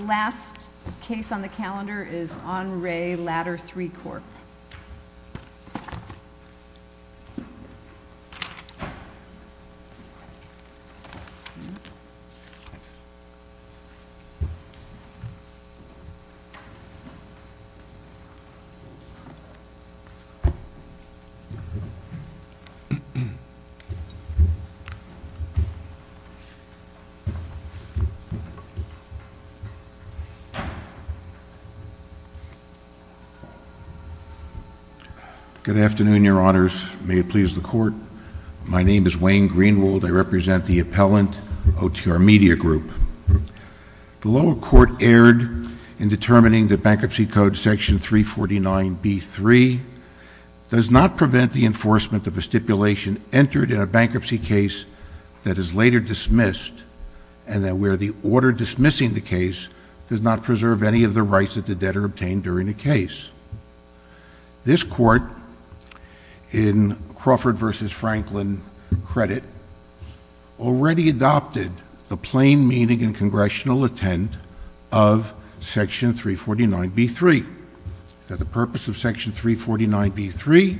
The last case on the calendar is En Re. Ladder III Corp. Good afternoon, Your Honors. May it please the Court. My name is Wayne Greenwald. I represent the appellant, OTR Media Group. The law court erred in determining that Bankruptcy Code Section 349B.3 does not prevent the enforcement of a stipulation entered in a bankruptcy case that is later dismissed and that where the order dismissing the case does not preserve any of the rights that the debtor obtained during the case. This Court, in Crawford v. Franklin credit, already adopted the plain meaning and congressional intent of Section 349B.3. The purpose of Section 349B.3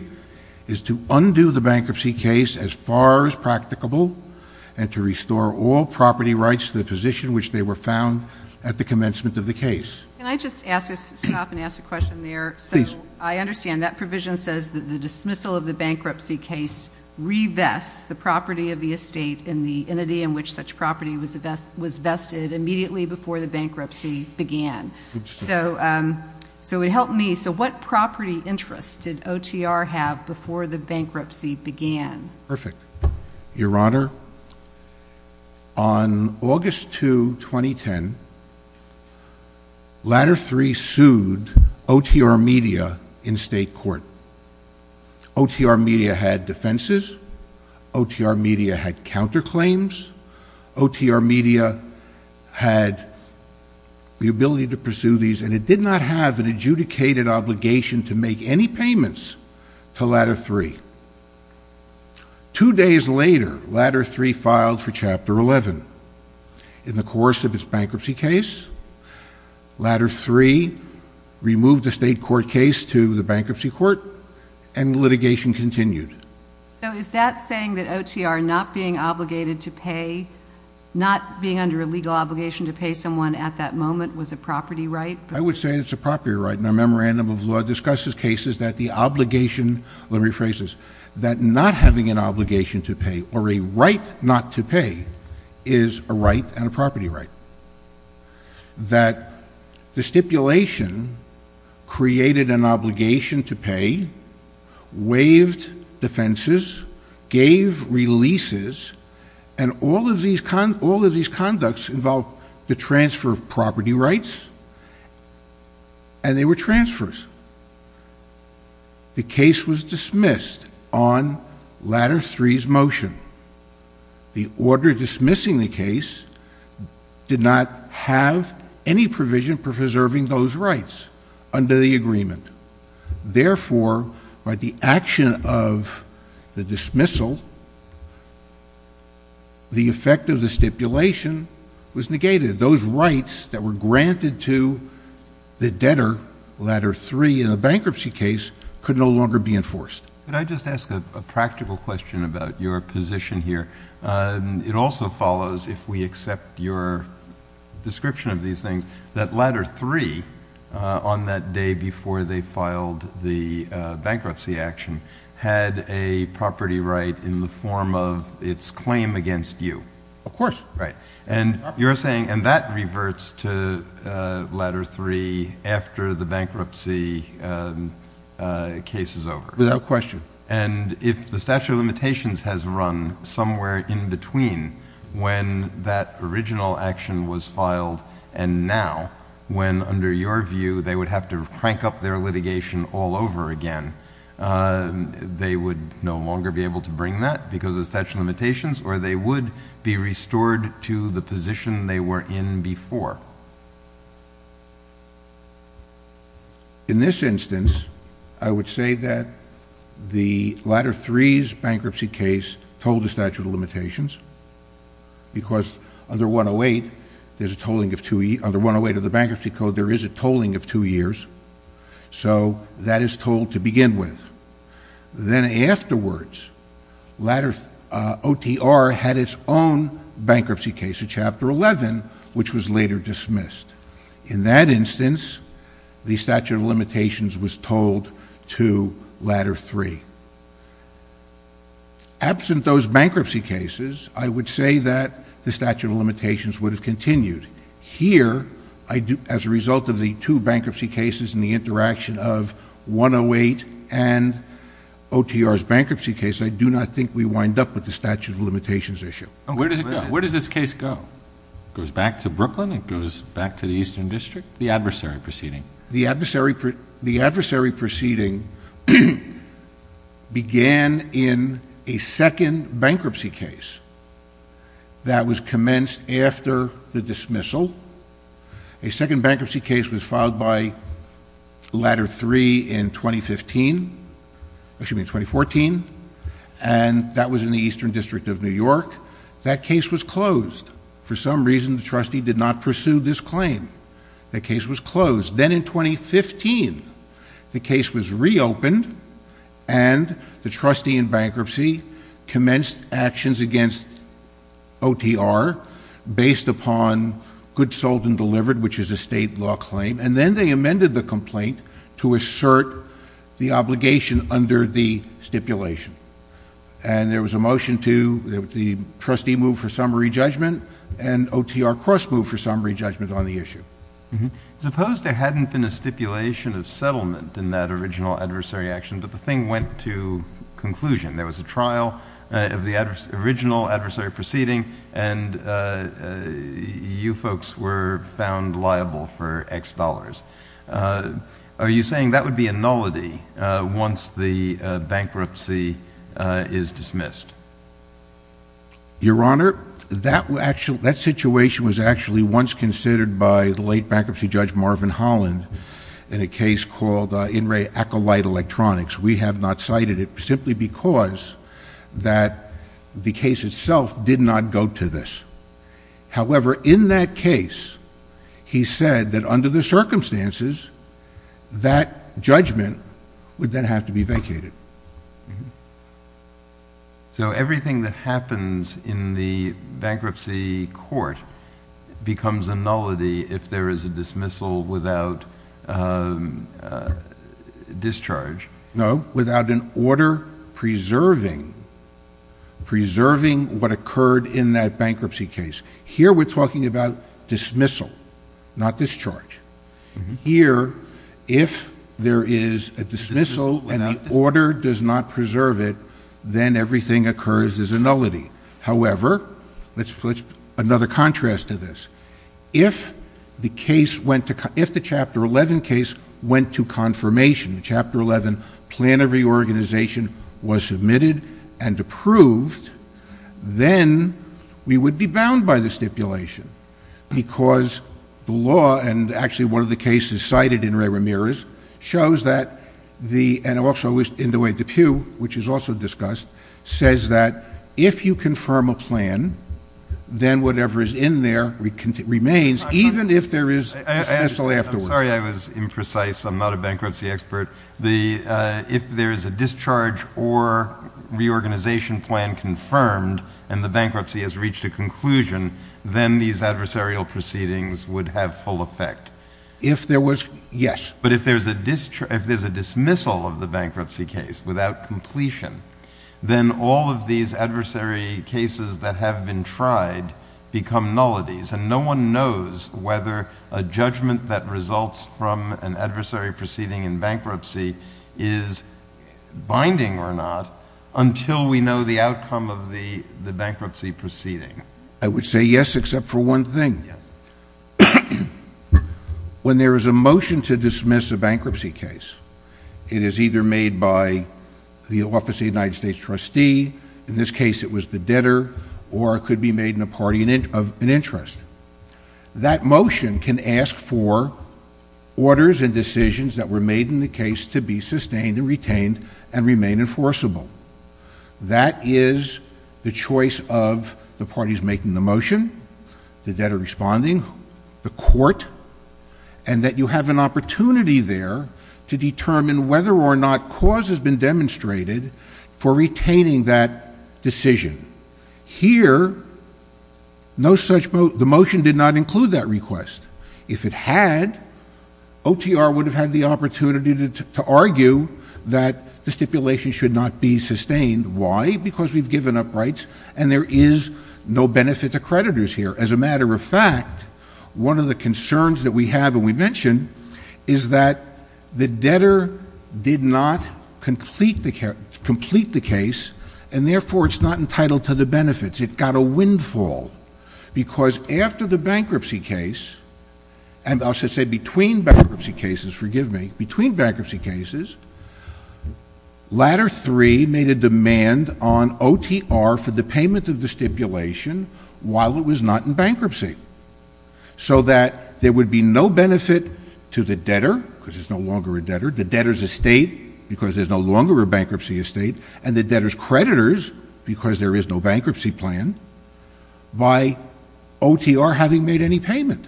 is to undo the bankruptcy case as far as practicable and to restore all property rights to the position which they were found at the commencement of the case. Can I just stop and ask a question there? Please. I understand that provision says that the dismissal of the bankruptcy case revests the property of the estate in the entity in which such property was vested immediately before the bankruptcy began. So it would help me. So what property interest did OTR have before the bankruptcy began? Perfect. Your Honor, on August 2, 2010, Ladder 3 sued OTR Media in state court. OTR Media had defenses. OTR Media had counterclaims. OTR Media had the ability to pursue these and it did not have an adjudicated obligation to make any payments to Ladder 3. Two days later, Ladder 3 filed for Chapter 11. In the course of its bankruptcy case, Ladder 3 removed the state court case to the bankruptcy court and litigation continued. So is that saying that OTR not being obligated to pay, not being under a legal obligation to pay someone at that moment, was a property right? I would say it's a property right. My memorandum of law discusses cases that the obligation — let me rephrase this — that not having an obligation to pay or a right not to pay is a right and a property right. That the stipulation created an obligation to pay, waived defenses, gave releases, and all of these — all of these conducts involved the transfer of property rights and they were transfers. The case was dismissed on Ladder 3's motion. The order dismissing the case did not have any provision preserving those rights under the agreement. Therefore, by the action of the dismissal, the effect of the stipulation was negated. Those rights that were granted to the debtor, Ladder 3, in the bankruptcy case could no longer be enforced. Could I just ask a practical question about your position here? It also follows, if we accept your description of these things, that Ladder 3, on that day before they filed the property right in the form of its claim against you. Of course. Right. And you're saying — and that reverts to Ladder 3 after the bankruptcy case is over. Without question. And if the statute of limitations has run somewhere in between when that original action was filed and now, when, under your view, they would have to crank up their litigation all over again, they would no longer be able to bring that because of the statute of limitations or they would be restored to the position they were in before? In this instance, I would say that the Ladder 3's bankruptcy case told the statute of limitations because under 108, there's a tolling of two — under 108 of the bankruptcy code, there is a tolling of two bankruptcy cases that is told to begin with. Then afterwards, OTR had its own bankruptcy case in Chapter 11, which was later dismissed. In that instance, the statute of limitations was told to Ladder 3. Absent those bankruptcy cases, I would say that the statute of limitations would have continued. Here, as a result of the two bankruptcy cases, 108 and OTR's bankruptcy case, I do not think we wind up with the statute of limitations issue. Where does it go? Where does this case go? It goes back to Brooklyn? It goes back to the Eastern District? The adversary proceeding? The adversary proceeding began in a second bankruptcy case that was commenced after the bankruptcy in 2015 — excuse me, 2014, and that was in the Eastern District of New York. That case was closed. For some reason, the trustee did not pursue this claim. The case was closed. Then in 2015, the case was reopened, and the trustee in bankruptcy commenced actions against OTR based upon Goods Sold and Delivered, which is a state law claim, and then they revert the obligation under the stipulation. There was a motion to the trustee move for summary judgment, and OTR cross-moved for summary judgment on the issue. I suppose there hadn't been a stipulation of settlement in that original adversary action, but the thing went to conclusion. There was a trial of the original adversary proceeding, and you folks were found liable for X dollars. Are you saying that would be enough? Your Honor, that situation was actually once considered by the late bankruptcy judge Marvin Holland in a case called In Re Acolyte Electronics. We have not cited it, simply because that the case itself did not go to this. However, in that case, he said that under the circumstances, that judgment would then have to be vacated. Everything that happens in the bankruptcy court becomes a nullity if there is a dismissal without discharge. No, without an order preserving what occurred in that bankruptcy case. Here, we're talking about dismissal, not discharge. Here, if there is a dismissal and the order does not preserve it, then everything occurs as a nullity. However, let's put another contrast to this. If the Chapter 11 case went to confirmation, Chapter 11, plan of reorganization was submitted and approved, then we would be bound by the stipulation, because the law, and actually one of the cases cited in Ray Ramirez, shows that, and also in DeWayne DePue, which is also discussed, says that if you confirm a plan, then whatever is in there remains, even if there is a dismissal afterwards. Sorry, I was imprecise. I'm not a bankruptcy expert. If there is a discharge or reorganization plan confirmed and the bankruptcy has reached a conclusion, then these adversarial proceedings would have full effect. If there was, yes. But if there's a dismissal of the bankruptcy case without completion, then all of these adversary cases that have been tried become nullities, and no one knows whether a judgment that results from an adversary proceeding in bankruptcy is binding or not until we know the outcome of the bankruptcy proceeding. I would say yes, except for one thing. When there is a motion to dismiss a bankruptcy case, it is either made by the Office of the United States Trustee, in this case it was the debtor, or it could be made in a party of an interest. That motion can ask for orders and decisions that were made in the case to be sustained and retained and remain enforceable. That is the choice of the parties making the motion, the debtor responding, the court, and that you have an opportunity there to determine whether or not cause has been demonstrated for retaining that decision. Here, the motion did not include that request. If it had, OTR would have had the opportunity to argue that the stipulation should not be sustained. Why? Because we've given up rights, and there is no benefit to creditors here. As a matter of fact, one of the concerns that we have and we mentioned is that the debtor did not complete the case, and therefore it's not entitled to the benefits. It got a windfall, because after the bankruptcy case, and I should say between bankruptcy cases, forgive me, between bankruptcy cases, Ladder 3 made a demand on OTR for the payment of the stipulation while it was not in bankruptcy, so that there would be no benefit to the debtor, because there's no longer a debtor, the debtor's estate, because there's no longer a bankruptcy estate, and the debtor's creditors, because there is no bankruptcy plan, by OTR having made any payment.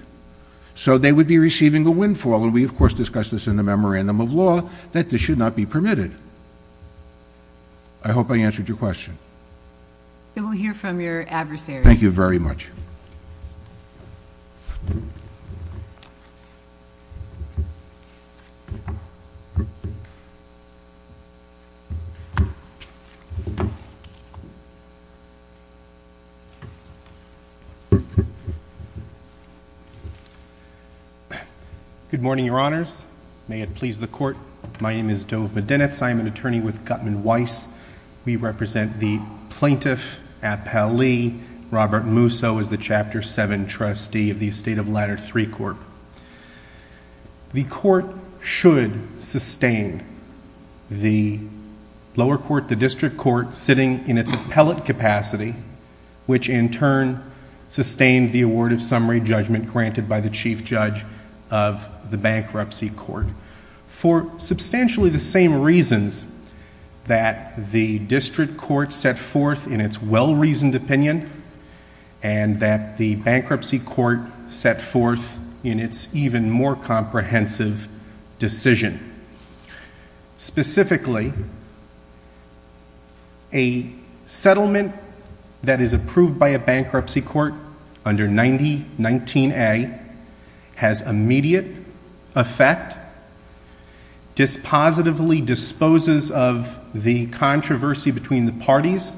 So they would be receiving the windfall, and we, of course, discussed this in the memorandum of law, that this should not be permitted. I hope I answered your question. So we'll hear from your adversary. Thank you very much. Good morning, Your Honors. May it please the Court. My name is Dov Madenitz. I am an attorney with Guttman Weiss. We represent the plaintiff at Pauley, Robert Musso is the Chapter 7 trustee of the estate of Ladder 3 Corp. The Court should sustain the lower court, the District Court, sitting in its appellate capacity, which in turn sustained the award of summary judgment granted by the Chief Judge of the Bankruptcy Court, for substantially the same reasons that the District Court set forth in its even more comprehensive decision. Specifically, a settlement that is approved by a bankruptcy court under 9019A has immediate effect, dispositively disposes of the controversy between the parties,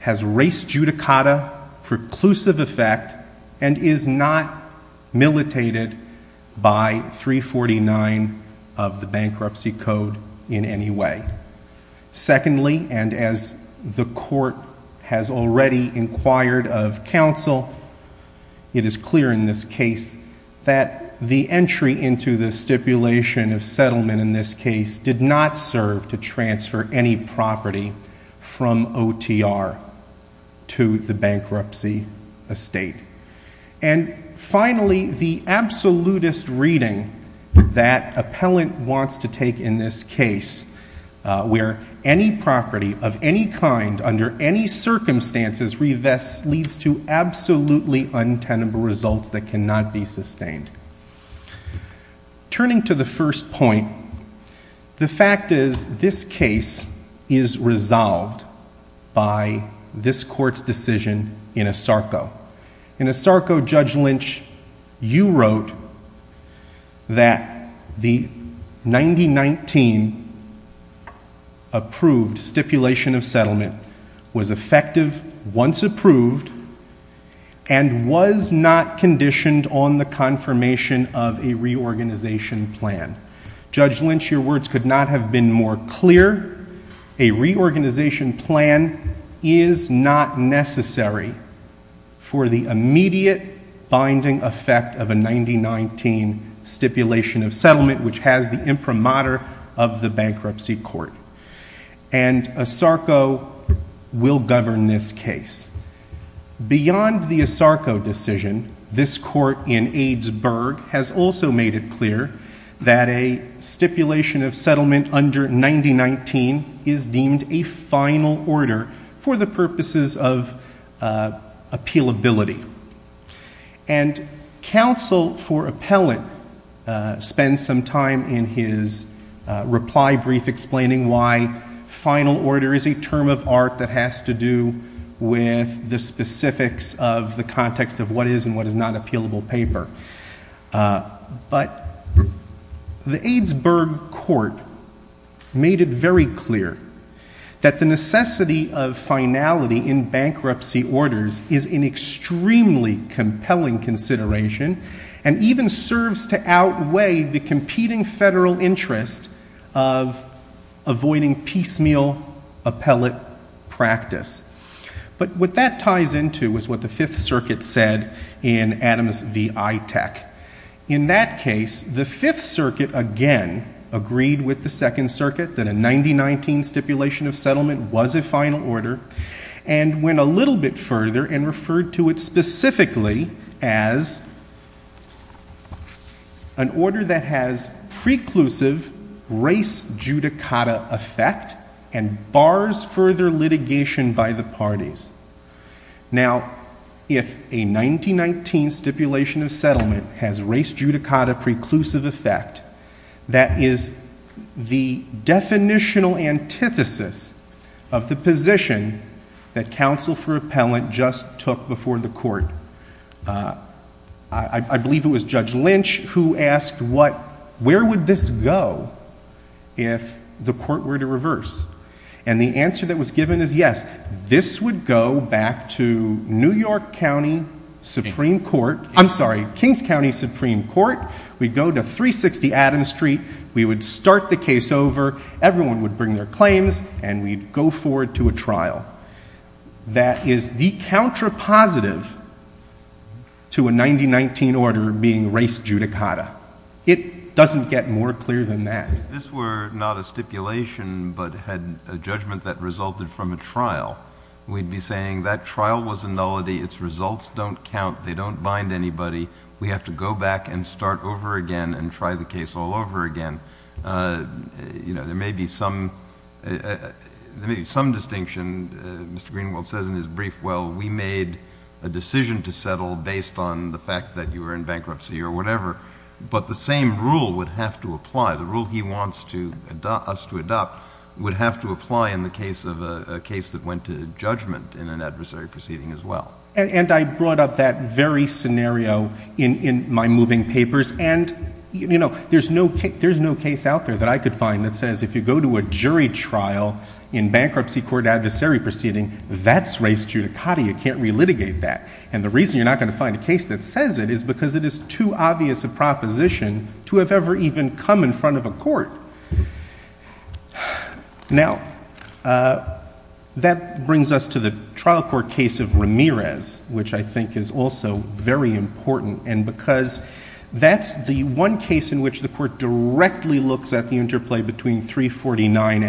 has race judicata preclusive effect, and is not militated by 349 of the Bankruptcy Code in any way. Secondly, and as the Court has already inquired of counsel, it is clear in this case that the entry into the stipulation of settlement in this case did not serve to transfer any property of any kind under any circumstances to the estate. And finally, the absolutist reading that appellant wants to take in this case, where any property of any kind under any circumstances leads to absolutely untenable results that cannot be sustained. Turning to the first point, the fact is this case is resolved by this Court's decision in ASARCO. In ASARCO, Judge Lynch, you wrote that the 9019 approved stipulation of settlement was effective once approved and was not conditioned on the confirmation of a reorganization plan. Judge Lynch, your words could not have been more clear. A reorganization plan is not necessary for the immediate binding effect of a 9019 stipulation of settlement, which has the imprimatur of the Bankruptcy Court. And ASARCO will govern this case. Beyond the ASARCO decision, this Court in Aidsburg has also made it clear that a stipulation of settlement under 9019 is deemed a final order for the purposes of appealability. And counsel for appellant spends some time in his reply brief explaining why final order is a term of art that has to do with the specifics of the context of what is and what is not appealable paper. But the Aidsburg Court made it very clear that the necessity of finality in bankruptcy orders is an extremely compelling consideration and even serves to outweigh the competing federal interest of avoiding piecemeal appellate practice. But what that ties into is what the Fifth Circuit said in Adamus v. Itek. In that case, the Fifth Circuit again agreed with the Second Circuit that a 9019 stipulation of settlement was a final order and went a little bit further and referred to it specifically as an order that has preclusive race judicata effect and bars further litigation by the parties. Now if a 9019 stipulation of settlement has race judicata preclusive effect, that is the definitional antithesis of the position that counsel for appellant just took before the court. I believe it was Judge Lynch who asked where would this go if the court were to reverse? And the answer that was given is yes, this would go back to New York County Supreme Court, I'm sorry, Kings County Supreme Court. We'd go to 360 Adams Street. We would start the trial. Everyone would bring their claims and we'd go forward to a trial. That is the counterpositive to a 9019 order being race judicata. It doesn't get more clear than that. This were not a stipulation but had a judgment that resulted from a trial. We'd be saying that trial was a nullity. Its results don't count. They don't bind anybody. We have to go back and start over again and try the case all over again. There may be some distinction, Mr. Greenwald says in his brief, well we made a decision to settle based on the fact that you were in bankruptcy or whatever, but the same rule would have to apply. The rule he wants us to adopt would have to apply in the case of a case that went to judgment in an adversary proceeding as well. I brought up that very scenario in my moving papers. There's no case out there that I could find that says if you go to a jury trial in bankruptcy court adversary proceeding, that's race judicata. You can't relitigate that. The reason you're not going to find a case that says it is because it is too obvious a proposition to have ever even come in front of a court. Now, that brings us to the trial court case of Ramirez, which I think is also very important and because that's the one case in which the court directly looks at the interplay between 349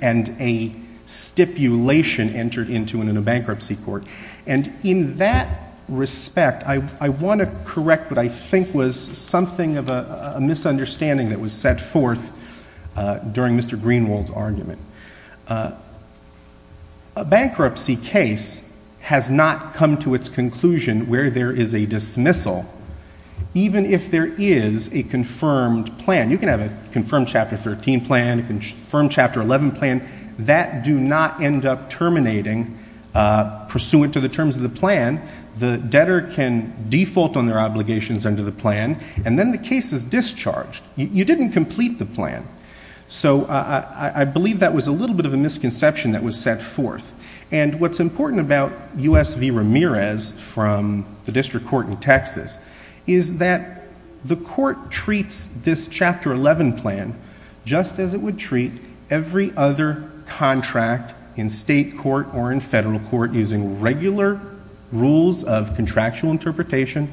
and a stipulation entered into in a bankruptcy court. In that respect, I want to correct what I think was something of a misunderstanding that was set forth during Mr. Greenwald's argument. A bankruptcy case has not come to its conclusion where there is a dismissal even if there is a confirmed plan. You can have a confirmed Chapter 13 plan, a confirmed Chapter 11 plan. That do not end up terminating pursuant to the terms of the plan. The debtor can default on their obligations under the plan and then the case is discharged. You didn't complete the plan. So I believe that was a little bit of a misconception that was set forth. And what's important about U.S. v. Ramirez from the District Court in Texas is that the court treats this Chapter 11 plan just as it would treat every other contract in state court or in federal court using regular rules of contractual interpretation,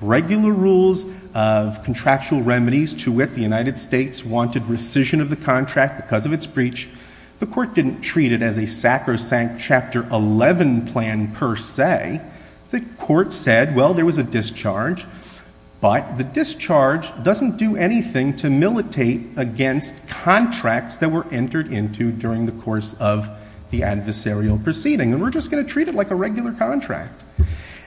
regular rules of contractual remedies to which the United States wanted rescission of the contract because of its breach. The court didn't treat it as a sack or sank Chapter 11 plan per se. The court said, well, there was a discharge, but the discharge doesn't do anything to militate against contracts that were entered into during the course of the adversarial proceeding. And we're just going to treat it like a regular contract.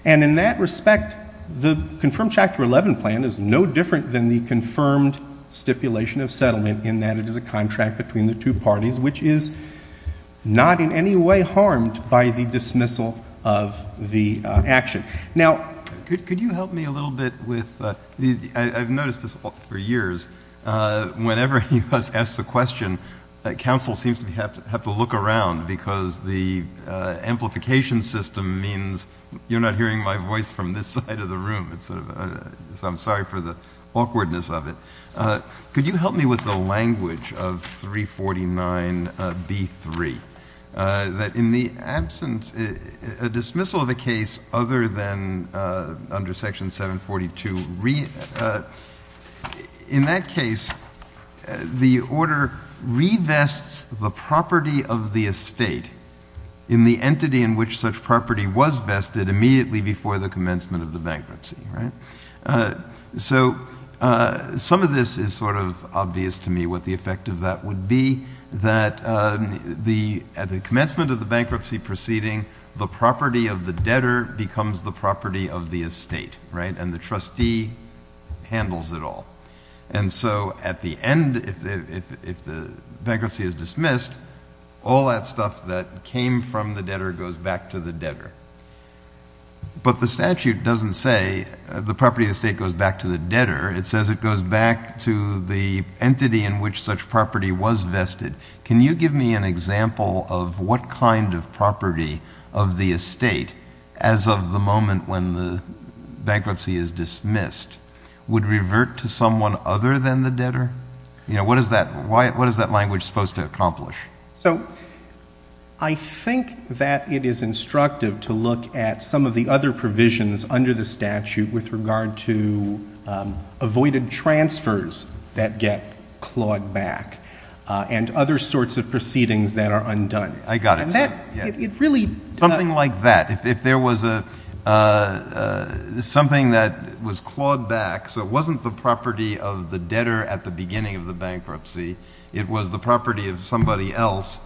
And in that respect, the confirmed Chapter 11 plan is no different than the confirmed stipulation of settlement in that it is a contract between the two parties, which is not in any way harmed by the dismissal of the action. Now, could you help me a little bit with, I've noticed this for years, whenever U.S. asks a question, counsel seems to have to look around because the amplification system means you're not hearing my voice from this side of the room. So I'm sorry for the awkwardness of it. Could you help me with the language of 349B3, that in the absence, a dismissal of a case other than under Section 742, in that case, there is a dismissal of a case the order revests the property of the estate in the entity in which such property was vested immediately before the commencement of the bankruptcy. So some of this is sort of obvious to me what the effect of that would be, that at the commencement of the bankruptcy proceeding, the property of the debtor becomes the property of the estate, and the trustee handles it all. And so at the end, if the bankruptcy is dismissed, all that stuff that came from the debtor goes back to the debtor. But the statute doesn't say the property of the estate goes back to the debtor. It says it goes back to the entity in which such property was vested. Can you give me an example of what kind of property of the estate, as of the moment when the bankruptcy is dismissed, would revert to someone other than the debtor? You know, what is that, what is that language supposed to accomplish? So I think that it is instructive to look at some of the other provisions under the statute with regard to avoided transfers that get clawed back, and other sorts of proceedings that are undone. I got it. Something like that. If there was something that was clawed back, so it wasn't the property of the debtor at the beginning of the bankruptcy, it was the property of somebody else,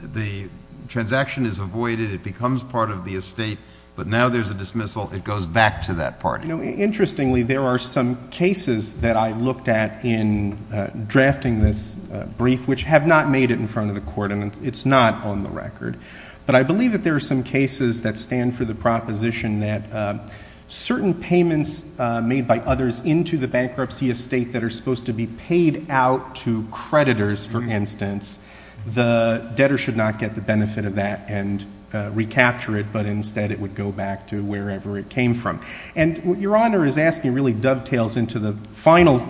the transaction is avoided, it becomes part of the estate, but now there's a dismissal, it goes back to that party. You know, interestingly, there are some cases that I looked at in drafting this brief which have not made it in front of the Court, and it's not on the record, but I believe that there are some cases that stand for the proposition that certain payments made by others into the bankruptcy estate that are supposed to be paid out to creditors, for instance, the debtor should not get the benefit of that and recapture it, but instead it would go back to wherever it came from. And what Your Honor is asking really dovetails into the final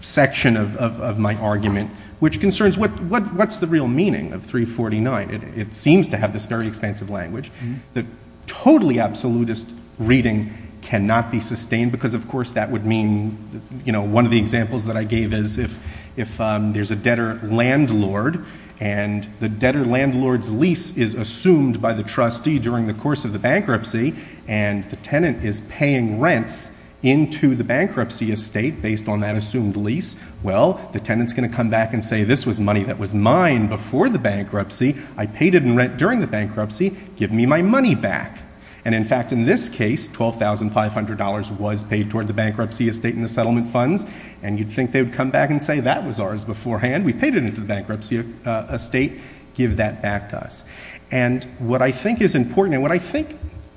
section of my argument, which concerns what's the real meaning of 349? It seems to have this very expansive language that totally absolutist reading cannot be sustained because, of course, that would mean, you know, one of the examples that I gave is if there's a debtor landlord and the debtor landlord's lease is assumed by the trustee during the course of the bankruptcy and the tenant is paying rents into the bankruptcy estate based on that assumed lease, well, the tenant's going to come back and say this was money that was mine before the bankruptcy, I paid it in rent during the bankruptcy, give me my money back. And in fact, in this case, $12,500 was paid toward the bankruptcy estate in the settlement funds, and you'd think they would come back and say that was ours beforehand, we paid it into the bankruptcy estate, give that back to us. And what I think is important, and what I think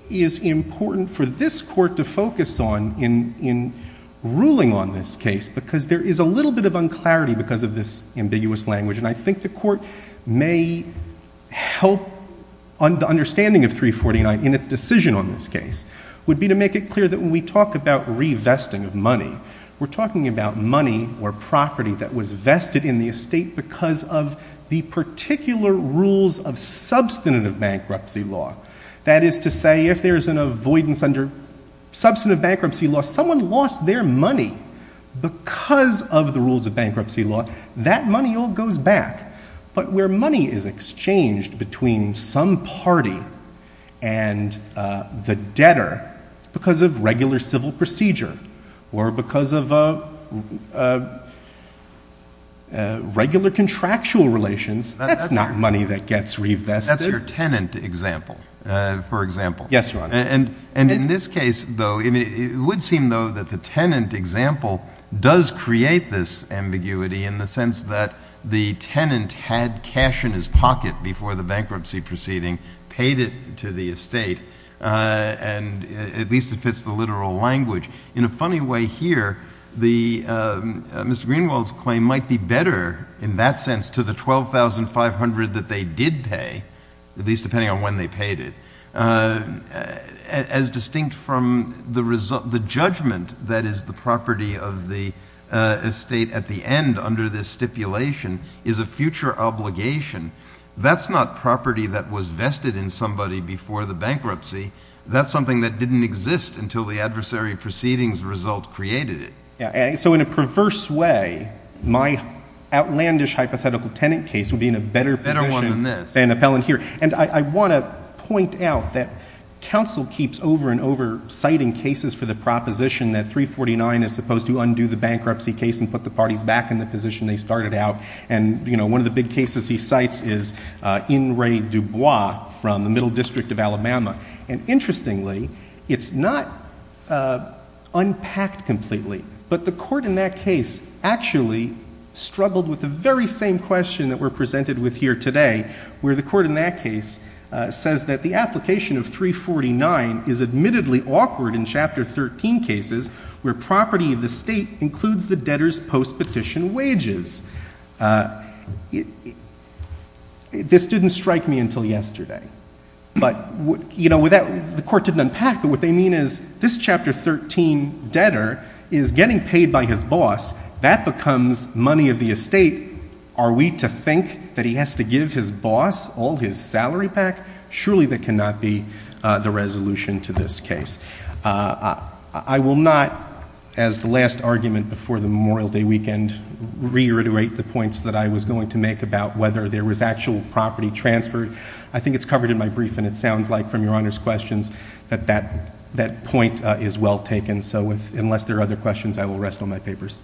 is important for this Court to focus on in ruling on this case, because there is a little bit of unclarity because of this ambiguous language, and I think the Court may help the understanding of 349 in its decision on this case, would be to make it clear that when we talk about revesting of money, we're talking about money or property that was vested in the estate because of the particular rules of substantive bankruptcy law. That is to say, if there is an avoidance under substantive bankruptcy law, someone lost their money because of the rules of bankruptcy law, that money all goes back. But where money is exchanged between some party and the debtor because of regular civil procedure or because of regular contractual relations, that's not money that gets revested. That's your tenant example, for example. Yes, Your Honor. And in this case, though, it would seem, though, that the tenant example does create this ambiguity in the sense that the tenant had cash in his pocket before the bankruptcy proceeding, paid it to the estate, and at least it fits the literal language. In a funny way here, Mr. Greenwald's claim might be better in that sense to the $12,500 that they did pay, at least depending on when they paid it, as distinct from the judgment that is the property of the estate at the end under this stipulation is a future obligation. That's not property that was vested in somebody before the bankruptcy. That's something that didn't exist until the adversary proceedings result created it. So in a perverse way, my outlandish hypothetical tenant case would be in a better position than appellant here. And I want to point out that counsel keeps over and over citing cases for the proposition that 349 is supposed to undo the bankruptcy case and put the parties back in the position they started out. And one of the big cases he cites is In re Dubois from the Middle District of Alabama. And interestingly, it's not unpacked completely. But the court in that case actually struggled with the very same question that we're presented with here today, where the court in that case says that the application of 349 is admittedly awkward in Chapter 13 cases where property of the state includes the debtor's post-petition wages. This didn't strike me until yesterday. But, you know, the court didn't unpack it, but what they mean is this Chapter 13 debtor is getting paid by his boss, that becomes money of the estate. Are we to think that he has to give his boss all his salary back? Surely that cannot be the resolution to this case. I will not, as the last argument before the Memorial Day weekend, re-eradicate that points that I was going to make about whether there was actual property transfer. I think it's covered in my brief, and it sounds like, from Your Honor's questions, that that point is well taken. So unless there are other questions, I will rest on my papers.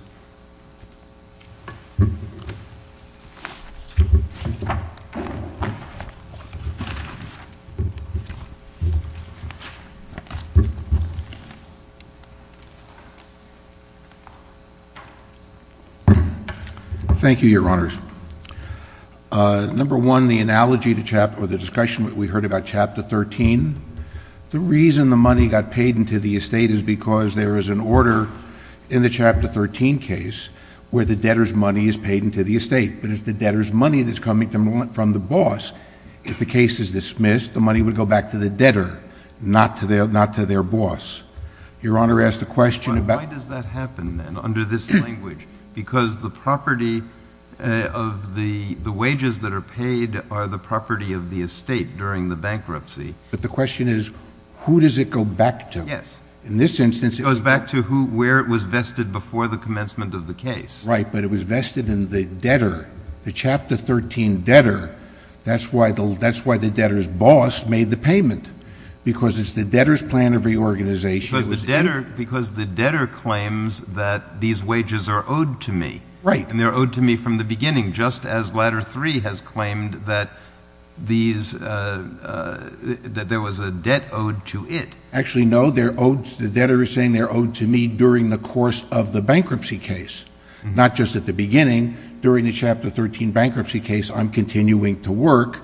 Thank you, Your Honors. Number one, the analogy or the discussion we heard about Chapter 13, the reason the money got paid into the estate is because there is an order in the Chapter 13 case where the debtor's money is paid into the estate. But it's the debtor's money that's coming from the boss. If the case is dismissed, the money would go back to the debtor, not to their boss. Your Honor asked a question about— The question of the wages that are paid are the property of the estate during the bankruptcy. But the question is, who does it go back to? Yes. In this instance— It goes back to where it was vested before the commencement of the case. Right, but it was vested in the debtor, the Chapter 13 debtor. That's why the debtor's boss made the payment. Because it's the debtor's plan of reorganization— Because the debtor claims that these wages are owed to me. Right. And they're owed to me from the beginning, just as Ladder 3 has claimed that there was a debt owed to it. Actually, no. The debtor is saying they're owed to me during the course of the bankruptcy case, not just at the beginning. During the Chapter 13 bankruptcy case, I'm continuing to work,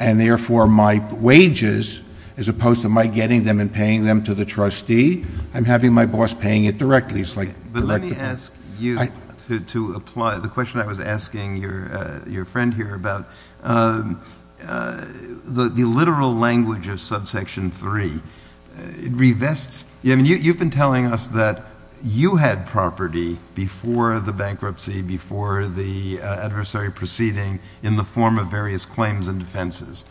and therefore my wages, as opposed to my getting them and paying them to the trustee, I'm having my boss paying it directly. But let me ask you to apply the question I was asking your friend here about the literal language of subsection 3. You've been telling us that you had property before the bankruptcy, before the adversary proceeding, in the form of various claims and defenses.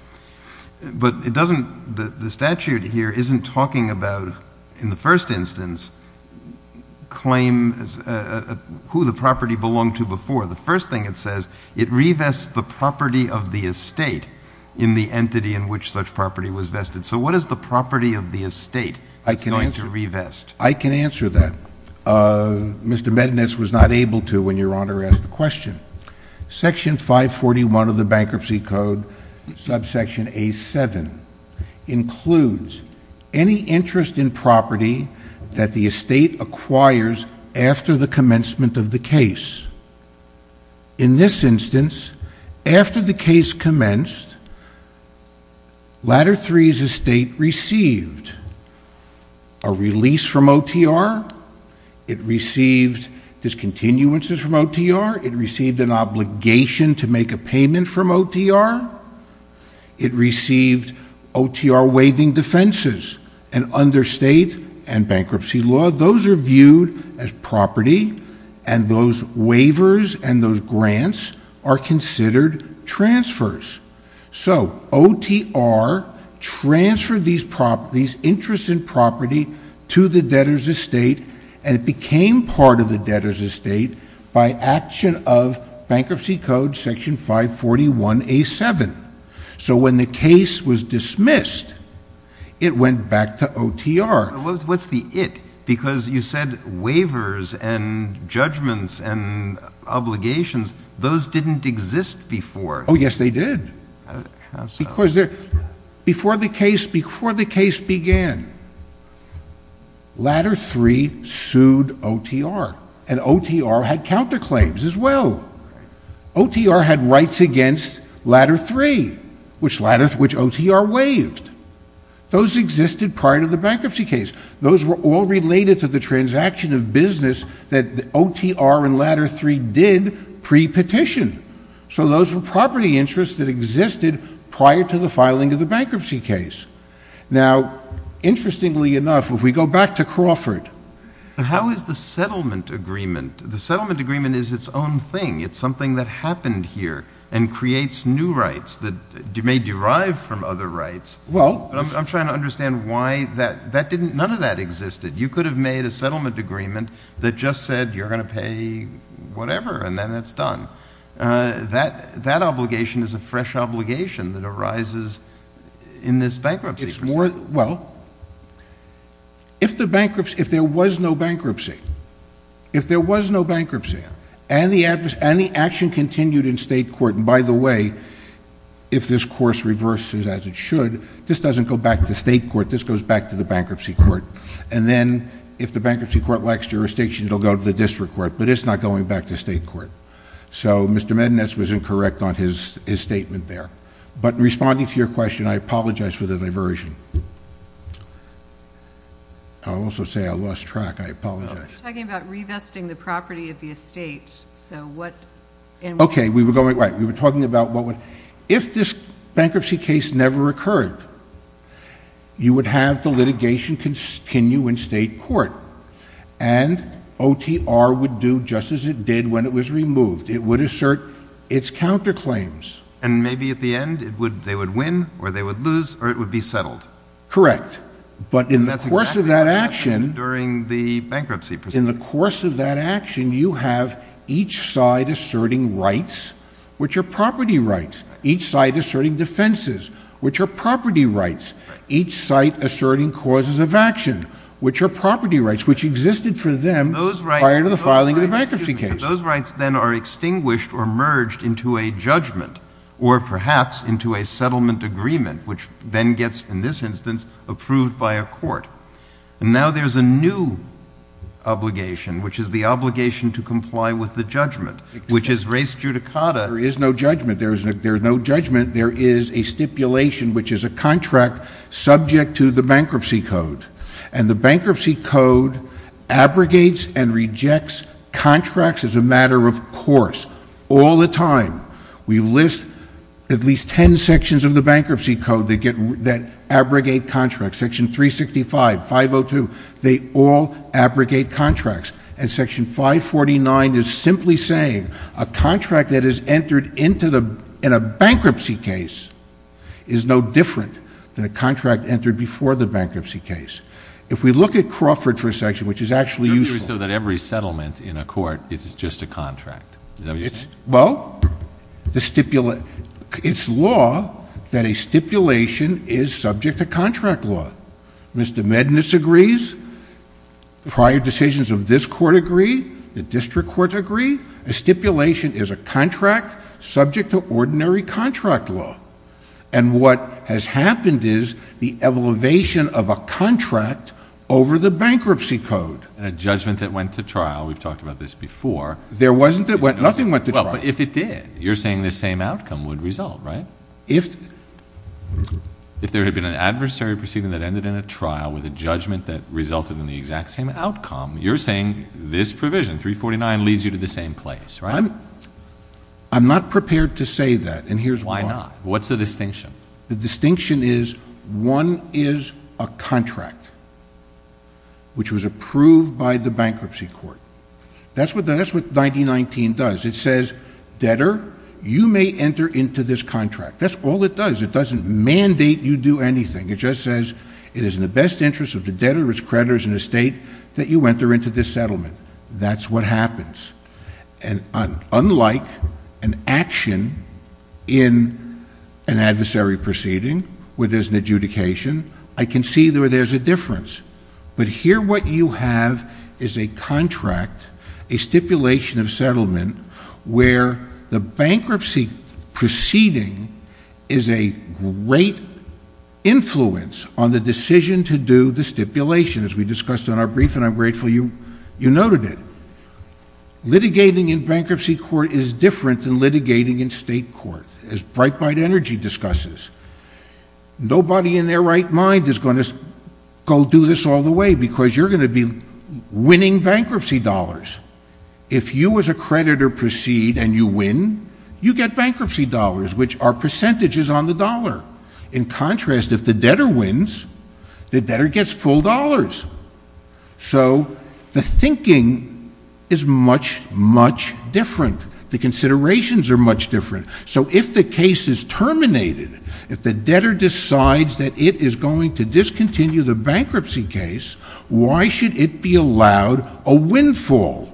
But it doesn't—the statute here isn't talking about, in the first instance, claim—who the property belonged to before. The first thing it says, it revests the property of the estate in the entity in which such property was vested. So what is the property of the estate that's going to revest? I can answer that. Mr. Bednitz was not able to when Your Honor asked the question. Section 541 of the Bankruptcy Code, subsection A7, includes any interest in property that the estate acquires after the commencement of the case. In this instance, after the case commenced, Ladder 3's estate received a release from OTR, it received discontinuances from OTR, it received an obligation to make a payment from OTR, it received OTR waiving defenses. And under state and bankruptcy law, those are viewed as property, and those waivers and those grants are considered transfers. So, OTR transferred these interests in property to the debtor's estate, and it became part of the debtor's estate by action of Bankruptcy Code, Section 541A7. So when the case was dismissed, it went back to OTR. What's the it? Because you said waivers and judgments and obligations, those didn't exist before. Oh, yes, they did. Because before the case began, Ladder 3 sued OTR, and OTR had counterclaims as well. OTR had rights against Ladder 3, which OTR waived. Those existed prior to the bankruptcy case. Those were all related to the transaction of business that OTR and Ladder 3 did pre-petition. So those were property interests that existed prior to the filing of the bankruptcy case. Now, interestingly enough, if we go back to Crawford, How is the settlement agreement? The settlement agreement is its own thing. It's something that happened here and creates new rights that may derive from other rights. I'm trying to understand why none of that existed. You could have made a settlement agreement that just said you're going to pay whatever, and then it's done. That obligation is a fresh obligation that arises in this bankruptcy. Well, if there was no bankruptcy, if there was no bankruptcy, and the action continued in state court, and by the way, if this course reverses as it should, this doesn't go back to state court, this goes back to the bankruptcy court, and then if the bankruptcy court lacks jurisdiction, it'll go to the district court, but it's not going back to state court. So Mr. Medinetz was incorrect on his statement there. But responding to your question, I apologize for the diversion. I'll also say I lost track. I apologize. You're talking about revesting the property of the estate, so what... Okay, we were talking about what would... If this bankruptcy case never occurred, you would have the litigation continue in state court, and OTR would do just as it did when it was removed. It would assert its counterclaims. And maybe at the end they would win, or they would lose, or it would be settled. Correct. But in the course of that action... And that's exactly what happened during the bankruptcy proceedings. In the course of that action, you have each side asserting rights, which are property rights, each side asserting defenses, which are property rights, each side asserting causes of action, which are property rights, which existed for them prior to the filing of the bankruptcy case. Those rights then are extinguished or merged into a judgment, or perhaps into a settlement agreement, which then gets, in this instance, approved by a court. And now there's a new obligation, which is the obligation to comply with the judgment, which is res judicata. There is no judgment. There is a stipulation, which is a contract, subject to the bankruptcy code. And the bankruptcy code abrogates and rejects contracts as a matter of course, all the time. We list at least ten sections of the bankruptcy code that abrogate contracts. Section 365, 502. They all abrogate contracts. And Section 549 is simply saying, a contract that is entered in a bankruptcy case is no different than a contract entered before the bankruptcy case. If we look at Crawford for a section, which is actually useful... You're saying that every settlement in a court is just a contract. Well, the stipulation... It's law that a stipulation is subject to contract law. Mr. Magnus agrees. Prior decisions of this court agree. The district court agree. A stipulation is a contract subject to ordinary contract law. And what has happened is the elevation of a contract over the bankruptcy code. And a judgment that went to trial. We've talked about this before. Nothing went to trial. But if it did, you're saying the same outcome would result, right? If there had been an adversary proceeding that ended in a trial with a judgment that resulted in the exact same outcome, you're saying this provision, 349, leads you to the same place, right? I'm not prepared to say that. Why not? What's the distinction? The distinction is one is a contract which was approved by the bankruptcy court. That's what 9019 does. It says, debtor, you may enter into this contract. That's all it does. It doesn't mandate you do anything. It just says it is in the best interest of the debtors, creditors, and estate that you enter into this settlement. That's what happens. And unlike an action in an adversary proceeding where there's an adjudication, I can see where there's a difference. But here what you have is a contract, a stipulation of settlement where the bankruptcy proceeding is a great influence on the decision to do the stipulation as we discussed in our brief and I'm grateful you noted it. Litigating in bankruptcy court is different than litigating in state court as Breitbart Energy discusses. Nobody in their right mind is going to go do this all the way because you're going to be winning bankruptcy dollars. If you as a creditor proceed and you win, you get bankruptcy dollars which are percentages on the dollar. In contrast, if the debtor wins the debtor gets full dollars. So the thinking is much, much different. The considerations are much different. So if the case is terminated if the debtor decides that it is going to discontinue the bankruptcy case why should it be allowed a windfall?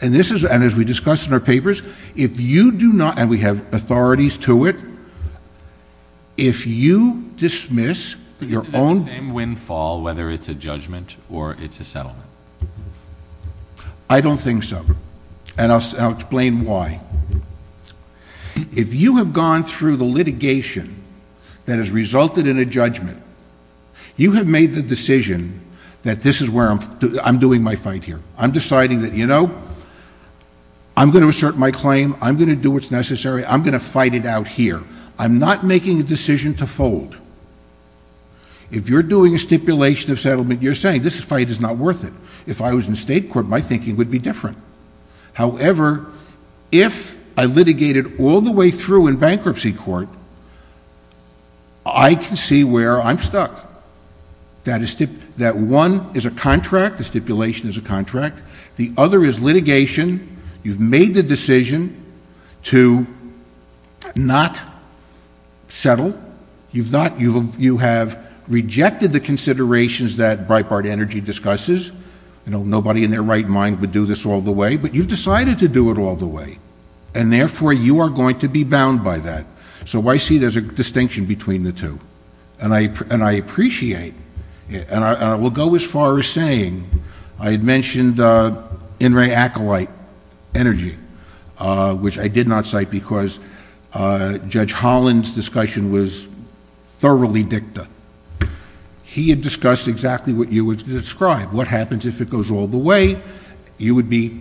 And as we discussed in our papers if you do not, and we have authorities to it if you dismiss your own whether it's a judgment or it's a settlement. I don't think so. And I'll explain why. If you have gone through the litigation that has resulted in a judgment you have made the decision that this is where I'm doing my fight here. I'm deciding that you know I'm going to assert my claim I'm going to do what's necessary I'm going to fight it out here. I'm not making a decision to fold. If you're doing a stipulation of settlement you're saying this fight is not worth it. If I was in state court my thinking would be different. However if I litigated all the way through in bankruptcy court I can see where I'm stuck. That one is a contract, the stipulation is a contract the other is litigation you've made the decision to not settle you have rejected the considerations that Breitbart Energy discusses nobody in their right mind would do this all the way but you've decided to do it all the way and therefore you are going to be bound by that. So I see there's a distinction between the two. And I appreciate and I will go as far as saying I had mentioned In re Acolyte Energy which I did not cite because Judge Holland's discussion was thoroughly dicta. He had discussed exactly what you would describe. What happens if it goes all the way? You would be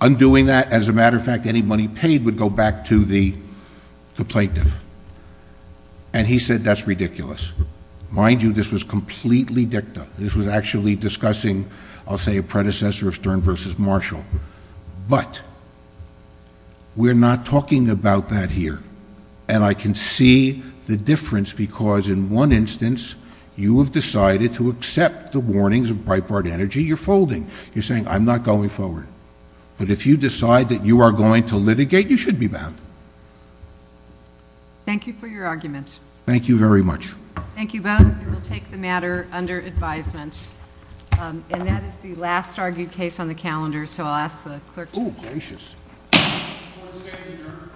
undoing that as a matter of fact any money paid would go back to the plaintiff. And he said that's ridiculous. Mind you this was completely dicta. This was actually discussing I'll say a predecessor of Stern versus Marshall. But we're not talking about that here. And I can see the difference because in one instance you have decided to accept the warnings of Breitbart Energy. You're folding. You're saying I'm not going forward. But if you decide that you are going to litigate you should be bound. Thank you for your argument. Thank you very much. Thank you both. We will take the matter under advisement. And that is the last argued case on the calendar so I'll ask the clerk to adjourn.